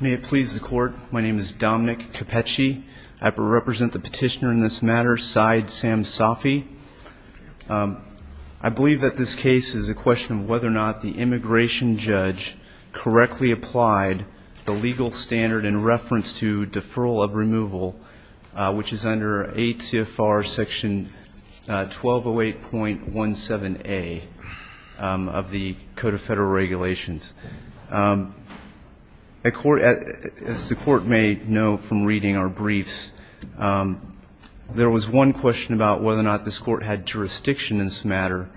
May it please the Court, my name is Dominic Cappecci. I represent the petitioner in this matter, Saeed Samsafi. I believe that this case is a question of whether or not the immigration judge correctly applied the legal standard in reference to deferral of removal, which is under ACFR Section 1208.17a of the Code of Federal Regulations. As the Court may know from reading our briefs, there was one question about whether or not this Court had jurisdiction in this matter.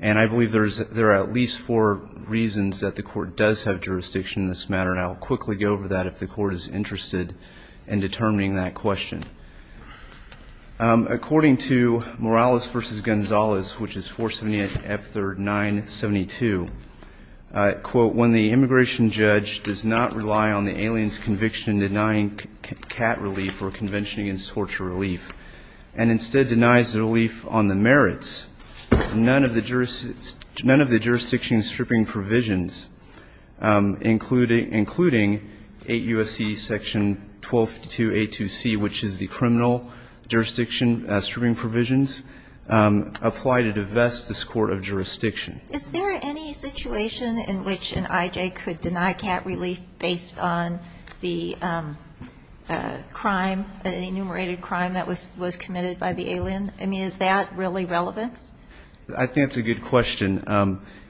And I believe there are at least four reasons that the Court does have jurisdiction in this matter, and I will quickly go over that if the Court is interested in determining that question. According to Morales v. Gonzalez, which is 478 F. 3rd 972, quote, when the immigration judge does not rely on the alien's conviction denying cat relief or convention against torture relief, and instead denies relief on the merits, none of the jurisdiction stripping provisions, including 8 U.S.C. Section 12282c, which is the criminal jurisdiction stripping provisions, apply to divest this Court of jurisdiction. Is there any situation in which an I.J. could deny cat relief based on the crime, the enumerated crime that was committed by the alien? I mean, is that really relevant? I think that's a good question.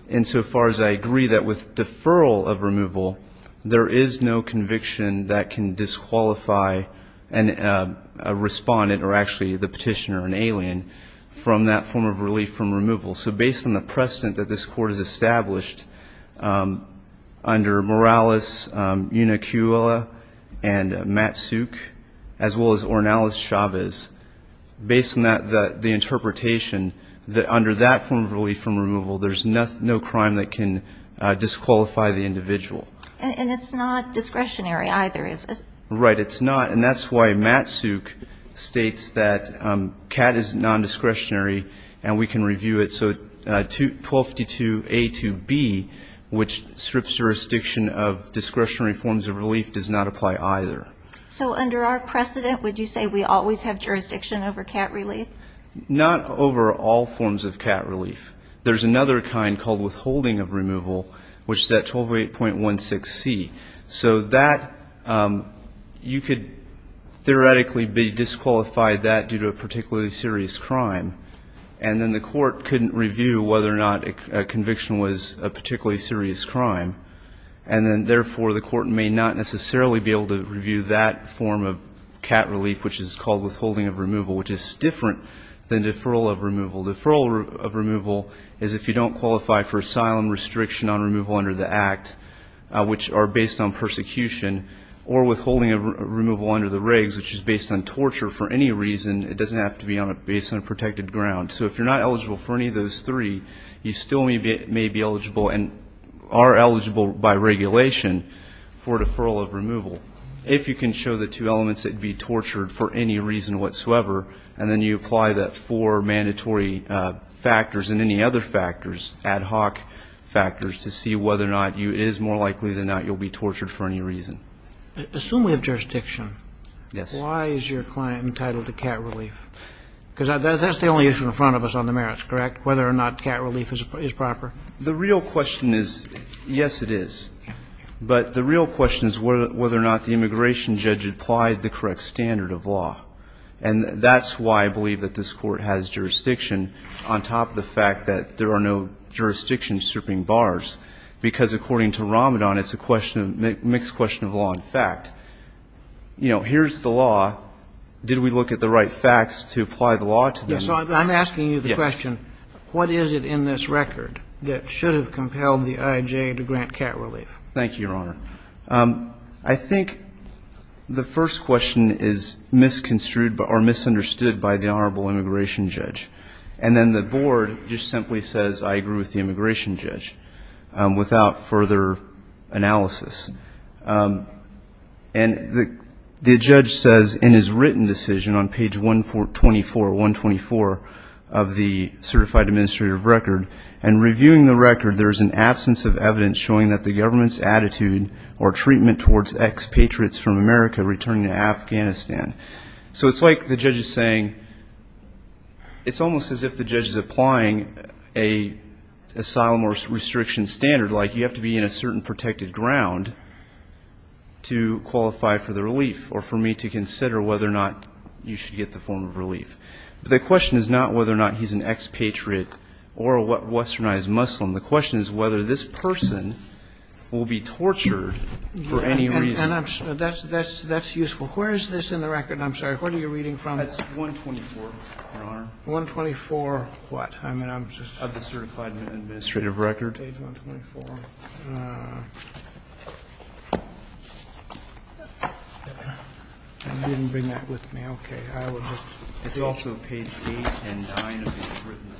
And so far as I agree that with deferral of removal, there is no conviction that can disqualify a respondent or actually the petitioner, an alien, from that form of relief from removal. So based on the precedent that this Court has established under Morales, Una Cuella, and Matt Suk, as well as Ornelas Chavez, based on the interpretation that under that form of relief from removal, there's no crime that can disqualify the individual. And it's not discretionary either, is it? Right, it's not. And that's why Matt Suk states that cat is nondiscretionary and we can review it. So 1222a to b, which strips jurisdiction of discretionary forms of relief, does not apply either. So under our precedent, would you say we always have jurisdiction over cat relief? Not over all forms of cat relief. There's another kind called withholding of removal, which is at 128.16c. So that, you could theoretically be disqualified that due to a particularly serious crime, and then the Court couldn't review whether or not a conviction was a particularly serious crime, and then therefore the Court may not necessarily be able to review that form of cat relief, which is called withholding of removal, which is different than deferral of removal. Deferral of removal is if you don't qualify for asylum restriction on removal under the Act, which are based on persecution, or withholding of removal under the regs, which is based on torture for any reason. It doesn't have to be based on a protected ground. So if you're not eligible for any of those three, you still may be eligible and are eligible by regulation for deferral of removal. If you can show the two elements, it would be tortured for any reason whatsoever, and then you apply the four mandatory factors and any other factors, ad hoc factors, to see whether or not it is more likely than not you'll be tortured for any reason. Assuming we have jurisdiction, why is your client entitled to cat relief? Because that's the only issue in front of us on the merits, correct? Whether or not cat relief is proper. The real question is, yes, it is. But the real question is whether or not the immigration judge applied the correct standard of law. And that's why I believe that this Court has jurisdiction on top of the fact that there are no jurisdiction stripping bars, because according to Ramadan, it's a question of mixed question of law and fact. You know, here's the law. Did we look at the right facts to apply the law to them? Yes. I'm asking you the question, what is it in this record that should have compelled the IJ to grant cat relief? Thank you, Your Honor. I think the first question is misconstrued or misunderstood by the honorable immigration judge. And then the board just simply says, I agree with the immigration judge, without further analysis. And the judge says in his written decision on page 124, 124 of the certified administrative record, in reviewing the record, there is an absence of evidence showing that the government's attitude or treatment towards expatriates from America returning to Afghanistan. So it's like the judge is saying, it's almost as if the judge is applying an asylum or restriction standard, like you have to be in a certain protected ground to qualify for the relief or for me to consider whether or not you should get the form of relief. But the question is not whether or not he's an expatriate or a westernized Muslim. The question is whether this person will be tortured for any reason. And that's useful. Where is this in the record? I'm sorry, what are you reading from? That's 124, Your Honor. 124 what? I mean, I'm just. Of the certified administrative record. Page 124. I didn't bring that with me. Okay. I will just. It's also page 8 and 9 of the written decision.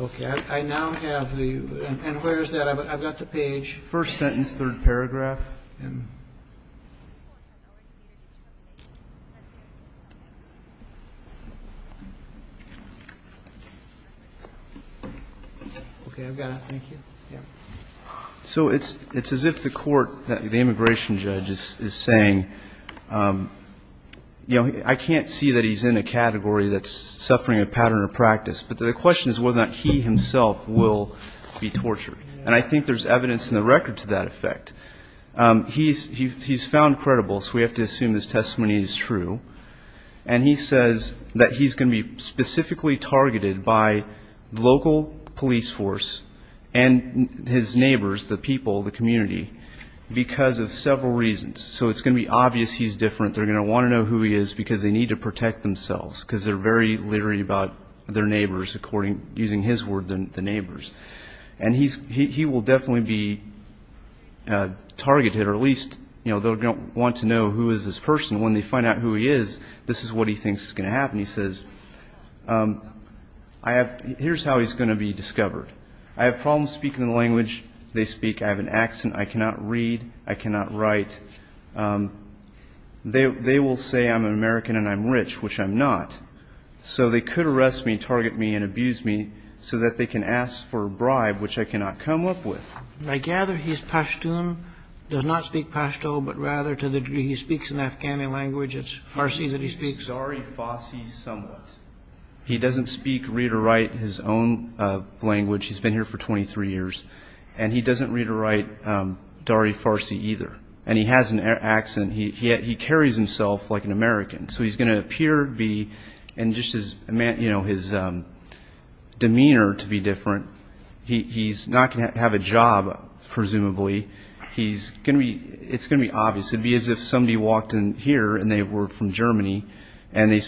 Okay. I now have the. And where is that? I've got the page. First sentence, third paragraph. So it's as if the court, the immigration judge is saying, you know, I can't see that he's in a category that's suffering a pattern of practice. But the question is whether or not he himself will be tortured. And I think there's evidence in the record to that effect. He's found credible, so we have to assume his testimony is true. And he says that he's going to be specifically targeted by local police force and his neighbors, the people, the community, because of several reasons. So it's going to be obvious he's different. They're going to want to know who he is because they need to protect themselves, because they're very leery about their neighbors, according, using his word, the neighbors. And he will definitely be targeted, or at least they'll want to know who is this person. When they find out who he is, this is what he thinks is going to happen. He says, here's how he's going to be discovered. I have problems speaking the language they speak. I have an accent. I cannot read. I cannot write. They will say I'm an American and I'm rich, which I'm not. So they could arrest me and target me and abuse me so that they can ask for a bribe, which I cannot come up with. I gather he's Pashtun, does not speak Pashto, but rather to the degree he speaks an Afghani language, it's Farsi that he speaks. He speaks Dari Farsi somewhat. He doesn't speak, read or write his own language. He's been here for 23 years. And he doesn't read or write Dari Farsi either. And he has an accent. He carries himself like an American. So he's going to appear and just his demeanor to be different. He's not going to have a job, presumably. It's going to be obvious. It would be as if somebody walked in here and they were from Germany and they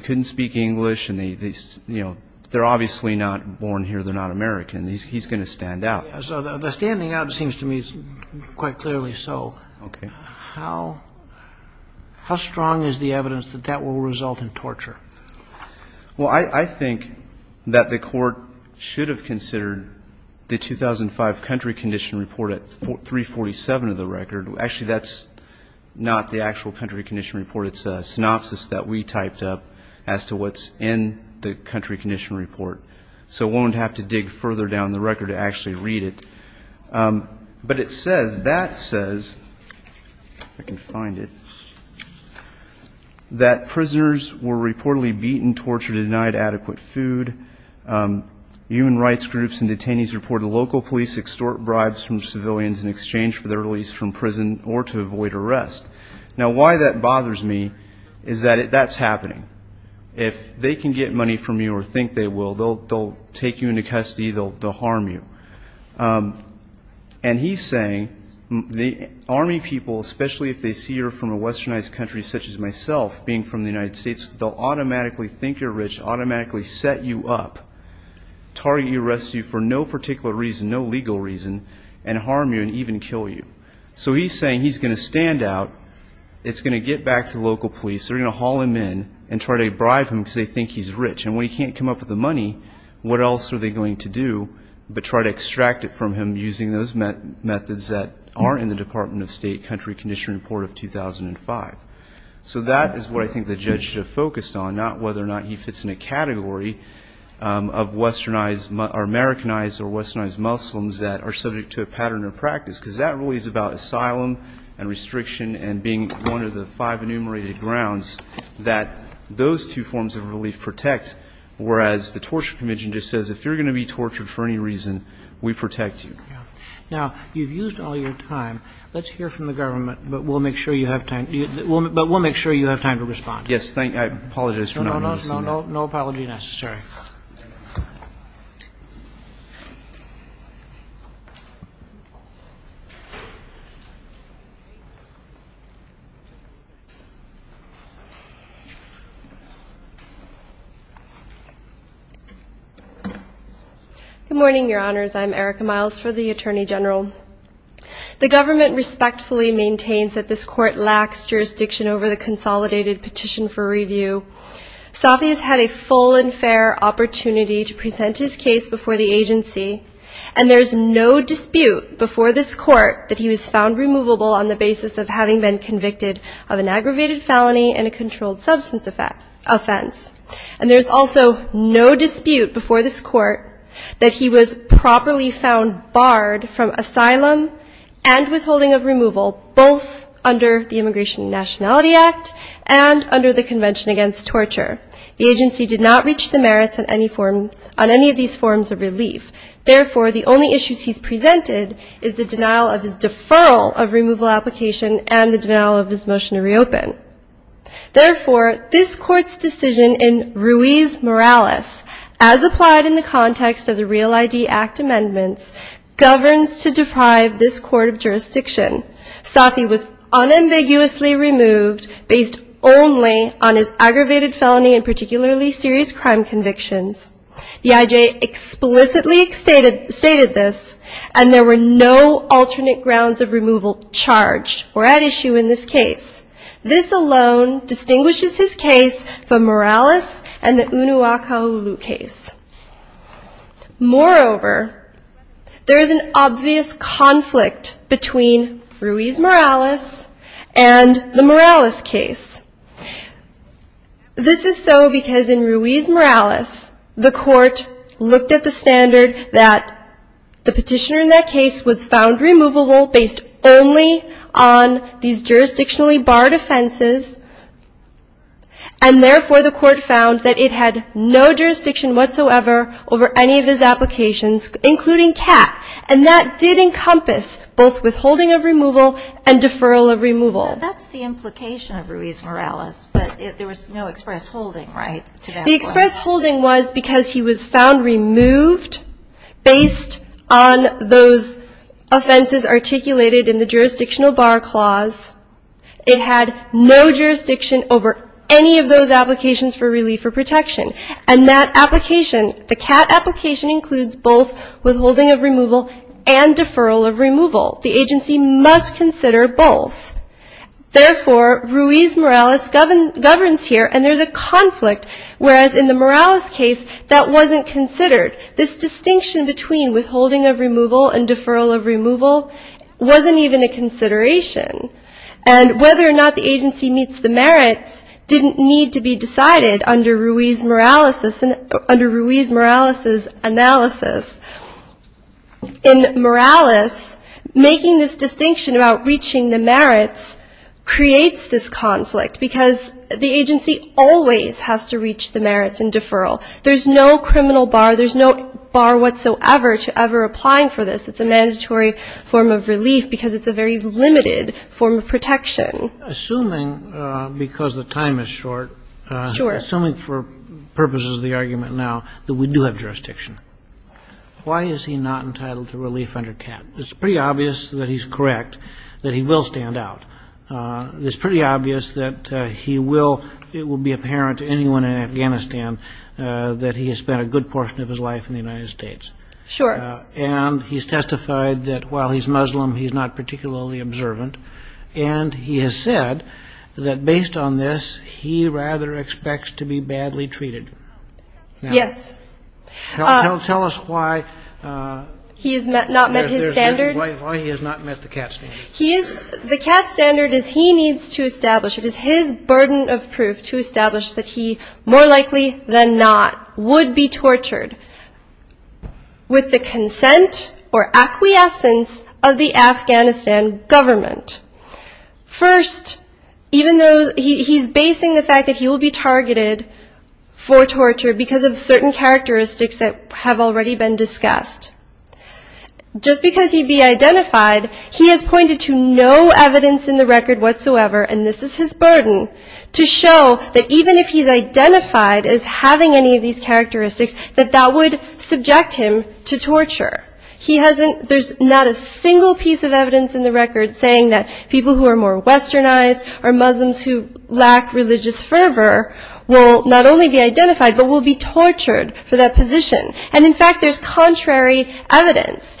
couldn't speak English. They're obviously not born here. They're not American. He's going to stand out. So the standing out seems to me quite clearly so. Okay. How strong is the evidence that that will result in torture? Well, I think that the court should have considered the 2005 country condition report at 347 of the record. Actually, that's not the actual country condition report. It's a synopsis that we typed up as to what's in the country condition report. So we won't have to dig further down the record to actually read it. But it says, that says, if I can find it, that prisoners were reportedly beaten, tortured, and denied adequate food. Human rights groups and detainees reported local police extort bribes from civilians in exchange for their release from prison or to avoid arrest. Now, why that bothers me is that that's happening. If they can get money from you or think they will, they'll take you into custody. They'll harm you. And he's saying the Army people, especially if they see you're from a westernized country such as myself, being from the United States, they'll automatically think you're rich, automatically set you up, target you, arrest you for no particular reason, no legal reason, and harm you and even kill you. So he's saying he's going to stand out. It's going to get back to local police. They're going to haul him in and try to bribe him because they think he's rich. And when he can't come up with the money, what else are they going to do but try to extract it from him using those methods that are in the Department of State country condition report of 2005. So that is what I think the judge should have focused on, not whether or not he fits in a category of westernized or Americanized or westernized Muslims that are subject to a pattern of practice. Because that really is about asylum and restriction and being one of the five enumerated grounds that those two forms of relief protect, whereas the Torture Commission just says if you're going to be tortured for any reason, we protect you. Now, you've used all your time. Let's hear from the government, but we'll make sure you have time to respond. I apologize for not releasing it. No, no apology necessary. Good morning, Your Honors. I'm Erica Miles for the Attorney General. The government respectfully maintains that this court lacks jurisdiction over the consolidated petition for review. Safi has had a full and fair opportunity to present his case before the agency, and there's no dispute before this court that he was found removable on the basis of having been convicted of an aggravated felony and a controlled substance offense. And there's also no dispute before this court that he was properly found barred from asylum and withholding of removal, both under the Immigration and Nationality Act and under the Convention Against Torture. The agency did not reach the merits on any of these forms of relief. Therefore, the only issues he's presented is the denial of his deferral of removal application and the denial of his motion to reopen. Therefore, this court's decision in Ruiz-Morales, as applied in the context of the Real ID Act amendments, governs to deprive this court of jurisdiction. Safi was unambiguously removed based only on his aggravated felony and particularly serious crime convictions. The IJ explicitly stated this, and there were no alternate grounds of removal charged or at issue in this case. This alone distinguishes his case from Morales and the Unuakalulu case. Moreover, there is an obvious conflict between Ruiz-Morales and the Morales case. This is so because in Ruiz-Morales, the court looked at the standard that the petitioner in that case was found removable based only on these jurisdictionally barred offenses, and therefore the court found that it had no jurisdiction whatsoever over any of his applications, including CAT. And that did encompass both withholding of removal and deferral of removal. That's the implication of Ruiz-Morales, but there was no express holding, right? The express holding was because he was found removed based on those offenses articulated in the jurisdictional bar clause. It had no jurisdiction over any of those applications for relief or protection. And that application, the CAT application includes both withholding of removal and deferral of removal. The agency must consider both. Therefore, Ruiz-Morales governs here, and there's a conflict, whereas in the Morales case, that wasn't considered. This distinction between withholding of removal and deferral of removal wasn't even a consideration. And whether or not the agency meets the merits didn't need to be decided under Ruiz-Morales' analysis. In Morales, making this distinction about reaching the merits creates this conflict, because the agency always has to reach the merits in deferral. There's no criminal bar. There's no bar whatsoever to ever applying for this. It's a mandatory form of relief because it's a very limited form of protection. Assuming, because the time is short. Sure. Assuming for purposes of the argument now that we do have jurisdiction, why is he not entitled to relief under CAT? It's pretty obvious that he's correct, that he will stand out. It's pretty obvious that he will, it will be apparent to anyone in Afghanistan, that he has spent a good portion of his life in the United States. Sure. And he's testified that while he's Muslim, he's not particularly observant. And he has said that based on this, he rather expects to be badly treated. Yes. Tell us why. He has not met his standard. Why he has not met the CAT standard. He is, the CAT standard is he needs to establish, it is his burden of proof to establish that he more likely than not would be tortured with the consent or acquiescence of the Afghanistan government. First, even though he's basing the fact that he will be targeted for torture because of certain characteristics that have already been discussed. Just because he'd be identified, he has pointed to no evidence in the record whatsoever, and this is his burden, to show that even if he's identified as having any of these characteristics, that that would subject him to torture. He hasn't, there's not a single piece of evidence in the record saying that people who are more westernized or Muslims who lack religious fervor will not only be identified but will be tortured for that position. And in fact, there's contrary evidence.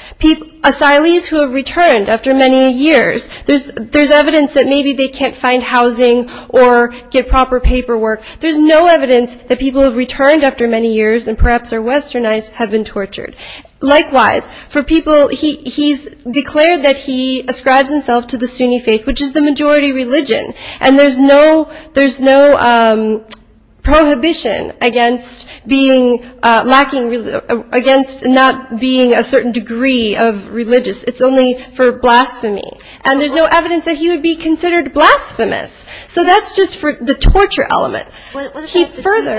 Asylees who have returned after many years, there's evidence that maybe they can't find housing or get proper paperwork. There's no evidence that people who have returned after many years and perhaps are westernized have been tortured. Likewise, for people, he's declared that he ascribes himself to the Sunni faith, which is the majority religion. And there's no, there's no prohibition against being, lacking, against not being a certain degree of religious. It's only for blasphemy. And there's no evidence that he would be considered blasphemous. So that's just for the torture element. Keep further.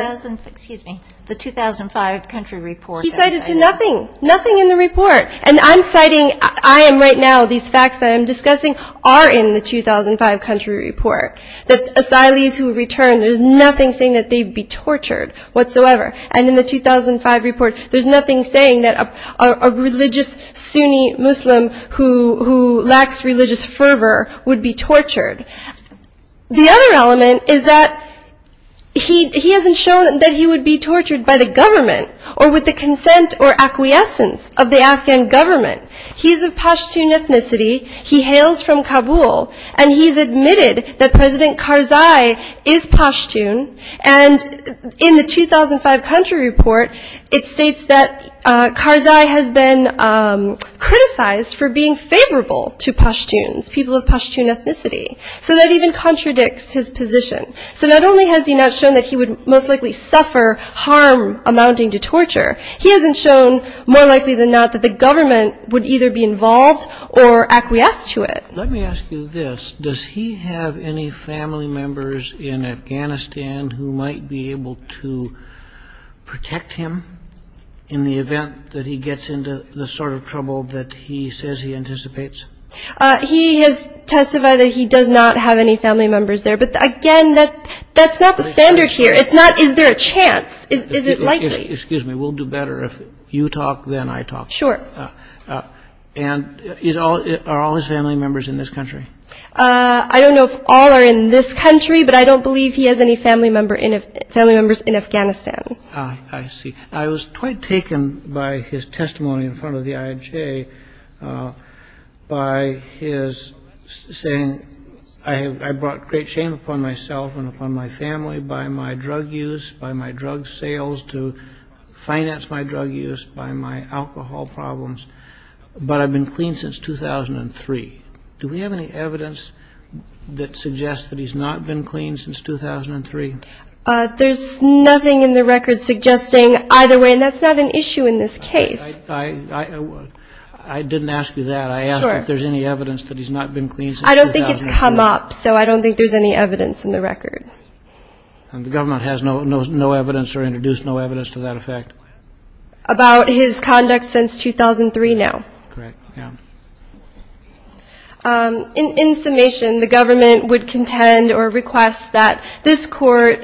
He cited to nothing, nothing in the report. And I'm citing, I am right now, these facts that I'm discussing are in the 2005 country report. That asylees who return, there's nothing saying that they'd be tortured whatsoever. And in the 2005 report, there's nothing saying that a religious Sunni Muslim who lacks religious fervor would be tortured. The other element is that he hasn't shown that he would be tortured by the government or with the consent or acquiescence of the Afghan government. He's of Pashtun ethnicity. He hails from Kabul. And he's admitted that President Karzai is Pashtun. And in the 2005 country report, it states that Karzai has been criticized for being favorable to Pashtuns, people of Pashtun ethnicity. So that even contradicts his position. So not only has he not shown that he would most likely suffer harm amounting to torture, he hasn't shown more likely than not that the government would either be involved or acquiesce to it. Let me ask you this. Does he have any family members in Afghanistan who might be able to protect him in the event that he gets into the sort of trouble that he says he anticipates? He has testified that he does not have any family members there. But, again, that's not the standard here. Is there a chance? Is it likely? Excuse me. We'll do better if you talk than I talk. Sure. And are all his family members in this country? I don't know if all are in this country. But I don't believe he has any family members in Afghanistan. I see. I was quite taken by his testimony in front of the IAJ by his saying, I brought great shame upon myself and upon my family by my drug use, by my drug sales to finance my drug use, by my alcohol problems. But I've been clean since 2003. Do we have any evidence that suggests that he's not been clean since 2003? There's nothing in the record suggesting either way. And that's not an issue in this case. I didn't ask you that. I don't think it's come up, so I don't think there's any evidence in the record. And the government has no evidence or introduced no evidence to that effect? About his conduct since 2003, no. Correct. Yeah. In summation, the government would contend or request that this Court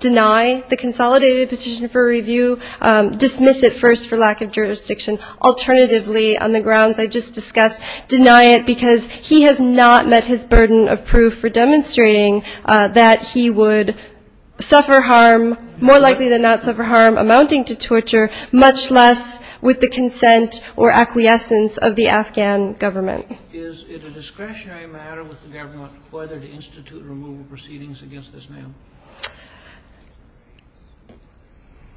deny the consolidated petition for review, dismiss it first for lack of jurisdiction. Alternatively, on the grounds I just discussed, deny it because he has not met his burden of proof for demonstrating that he would suffer harm, more likely than not suffer harm amounting to torture, much less with the consent or acquiescence of the Afghan government. Is it a discretionary matter with the government whether to institute removal proceedings against this man?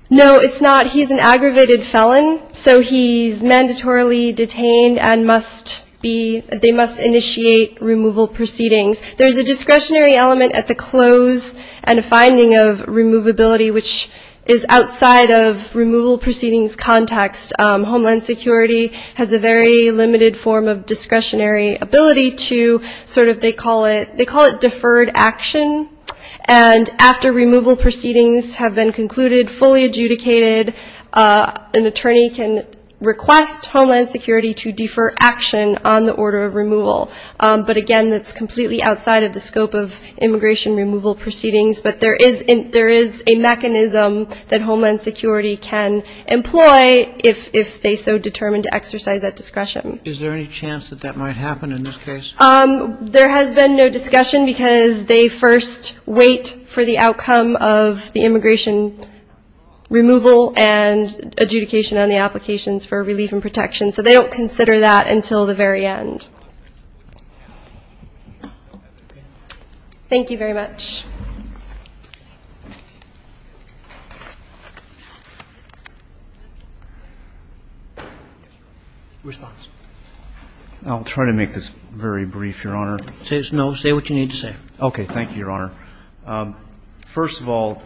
No, it's not. He's an aggravated felon, so he's mandatorily detained and must be they must initiate removal proceedings. There's a discretionary element at the close and finding of removability, which is outside of removal proceedings context. Homeland Security has a very limited form of discretionary ability to sort of, they call it deferred action. And after removal proceedings have been concluded, fully adjudicated, an attorney can request Homeland Security to defer action on the order of removal. But again, that's completely outside of the scope of immigration removal proceedings. But there is a mechanism that Homeland Security can employ if they so determine to exercise that discretion. Is there any chance that that might happen in this case? There has been no discussion because they first wait for the outcome of the immigration removal and adjudication on the applications for relief and protection. So they don't consider that until the very end. Thank you very much. I'll try to make this very brief, Your Honor. Say what you need to say. Okay. Thank you, Your Honor. First of all,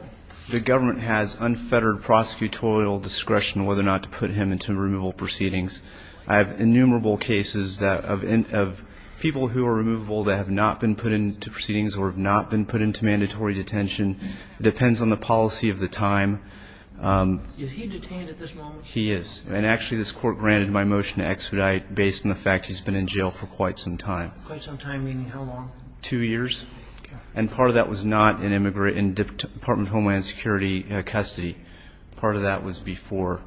the government has unfettered prosecutorial discretion whether or not to put him into removal proceedings. I have innumerable cases of people who are removable that have not been put into proceedings or have not been put into mandatory detention. It depends on the policy of the time. Is he detained at this moment? He is. And actually this Court granted my motion to expedite based on the fact he's been in jail for quite some time. Quite some time meaning how long? Two years. And part of that was not in Department of Homeland Security custody. Part of that was before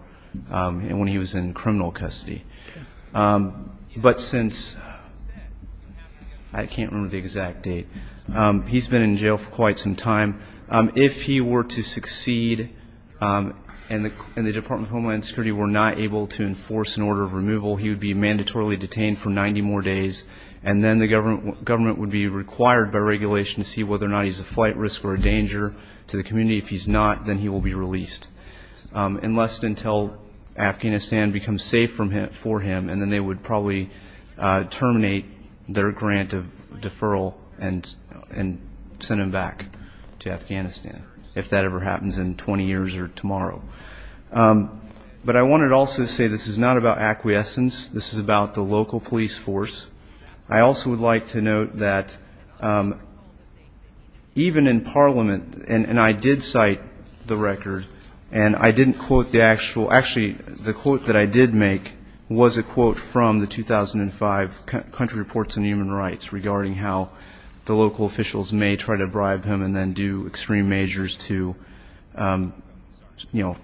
and when he was in criminal custody. But since I can't remember the exact date, he's been in jail for quite some time. If he were to succeed and the Department of Homeland Security were not able to enforce an order of removal, he would be mandatorily detained for 90 more days, and then the government would be required by regulation to see whether or not he's a flight risk or a danger to the community. If he's not, then he will be released unless and until Afghanistan becomes safe for him, and then they would probably terminate their grant of deferral and send him back to Afghanistan, if that ever happens in 20 years or tomorrow. But I wanted also to say this is not about acquiescence. This is about the local police force. I also would like to note that even in Parliament, and I did cite the record, and I didn't quote the actual actually the quote that I did make was a quote from the 2005 Country Reports on Human Rights regarding how the local officials may try to bribe him and then do extreme measures to, you know,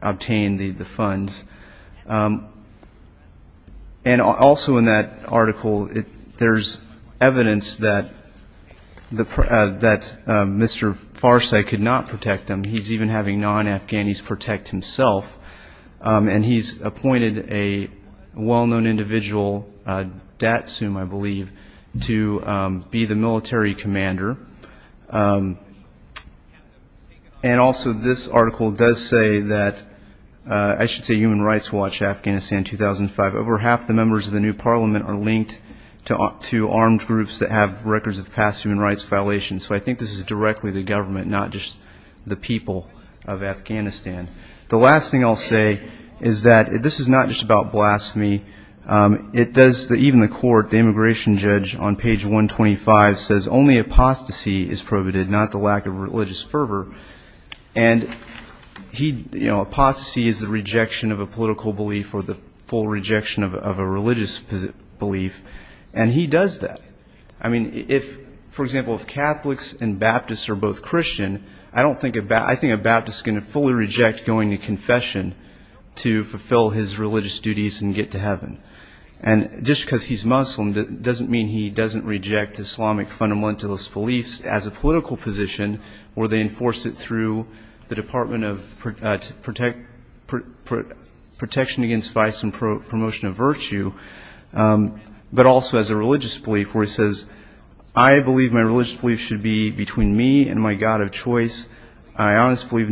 obtain the funds. And also in that article, there's evidence that Mr. Farsai could not protect him. He's even having non-Afghanis protect himself, and he's appointed a well-known individual, Datsum, I believe, to be the military commander. And also this article does say that I should say Human Rights Watch Afghanistan 2005, over half the members of the new Parliament are linked to armed groups that have records of past human rights violations. So I think this is directly the government, not just the people of Afghanistan. The last thing I'll say is that this is not just about blasphemy. It does, even the court, the immigration judge on page 125 says only apostasy is prohibited, not the lack of religious fervor. And he, you know, apostasy is the rejection of a political belief or the full rejection of a religious belief, and he does that. I mean, if, for example, if Catholics and Baptists are both Christian, I think a Baptist is going to fully reject going to confession to fulfill his religious duties and get to heaven. And just because he's Muslim doesn't mean he doesn't reject Islamic fundamentalist beliefs as a political position where they enforce it through the Department of Protection Against Vice and Promotion of Virtue, but also as a religious belief where he says, I believe my religious belief should be between me and my God of choice. I honestly believe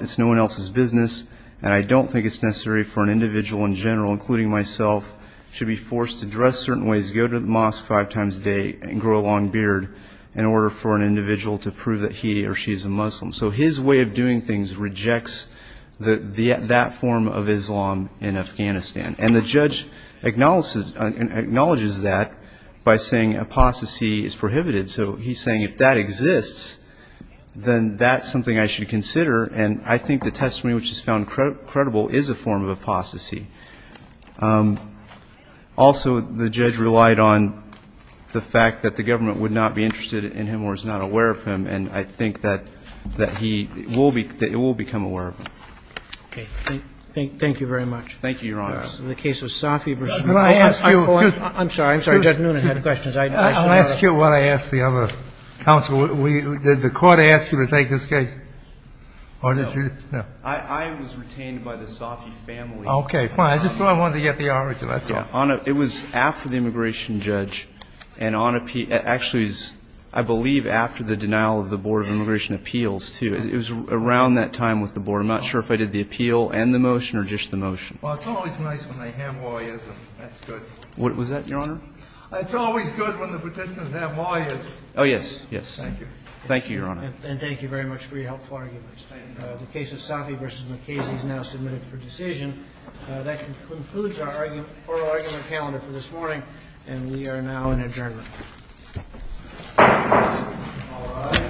it's no one else's business, and I don't think it's necessary for an individual in general, including myself, to be forced to dress certain ways, go to the mosque five times a day, and grow a long beard in order for an individual to prove that he or she is a Muslim. So his way of doing things rejects that form of Islam in Afghanistan. And the judge acknowledges that by saying apostasy is prohibited. So he's saying if that exists, then that's something I should consider, and I think the testimony which is found credible is a form of apostasy. Also, the judge relied on the fact that the government would not be interested in him or is not aware of him, and I think that he will become aware of him. Okay. Thank you very much. Thank you, Your Honor. In the case of Safi versus the court. Could I ask you? I'm sorry. I'm sorry. Judge Noonan had questions. I should have asked. I'll ask you what I asked the other counsel. Did the court ask you to take this case, or did you? No. I was retained by the Safi family. Okay. Fine. I just thought I wanted to get the origin. That's all. It was after the immigration judge. And actually, I believe after the denial of the Board of Immigration Appeals, too. It was around that time with the Board. I'm not sure if I did the appeal and the motion or just the motion. Well, it's always nice when they have lawyers, and that's good. What was that, Your Honor? It's always good when the petitioners have lawyers. Oh, yes. Yes. Thank you. Thank you, Your Honor. And thank you very much for your helpful arguments. Thank you. The case of Safi versus McKasey is now submitted for decision. That concludes our oral argument calendar for this morning, and we are now in adjournment. All right. Thank you, Your Honor. Thank you.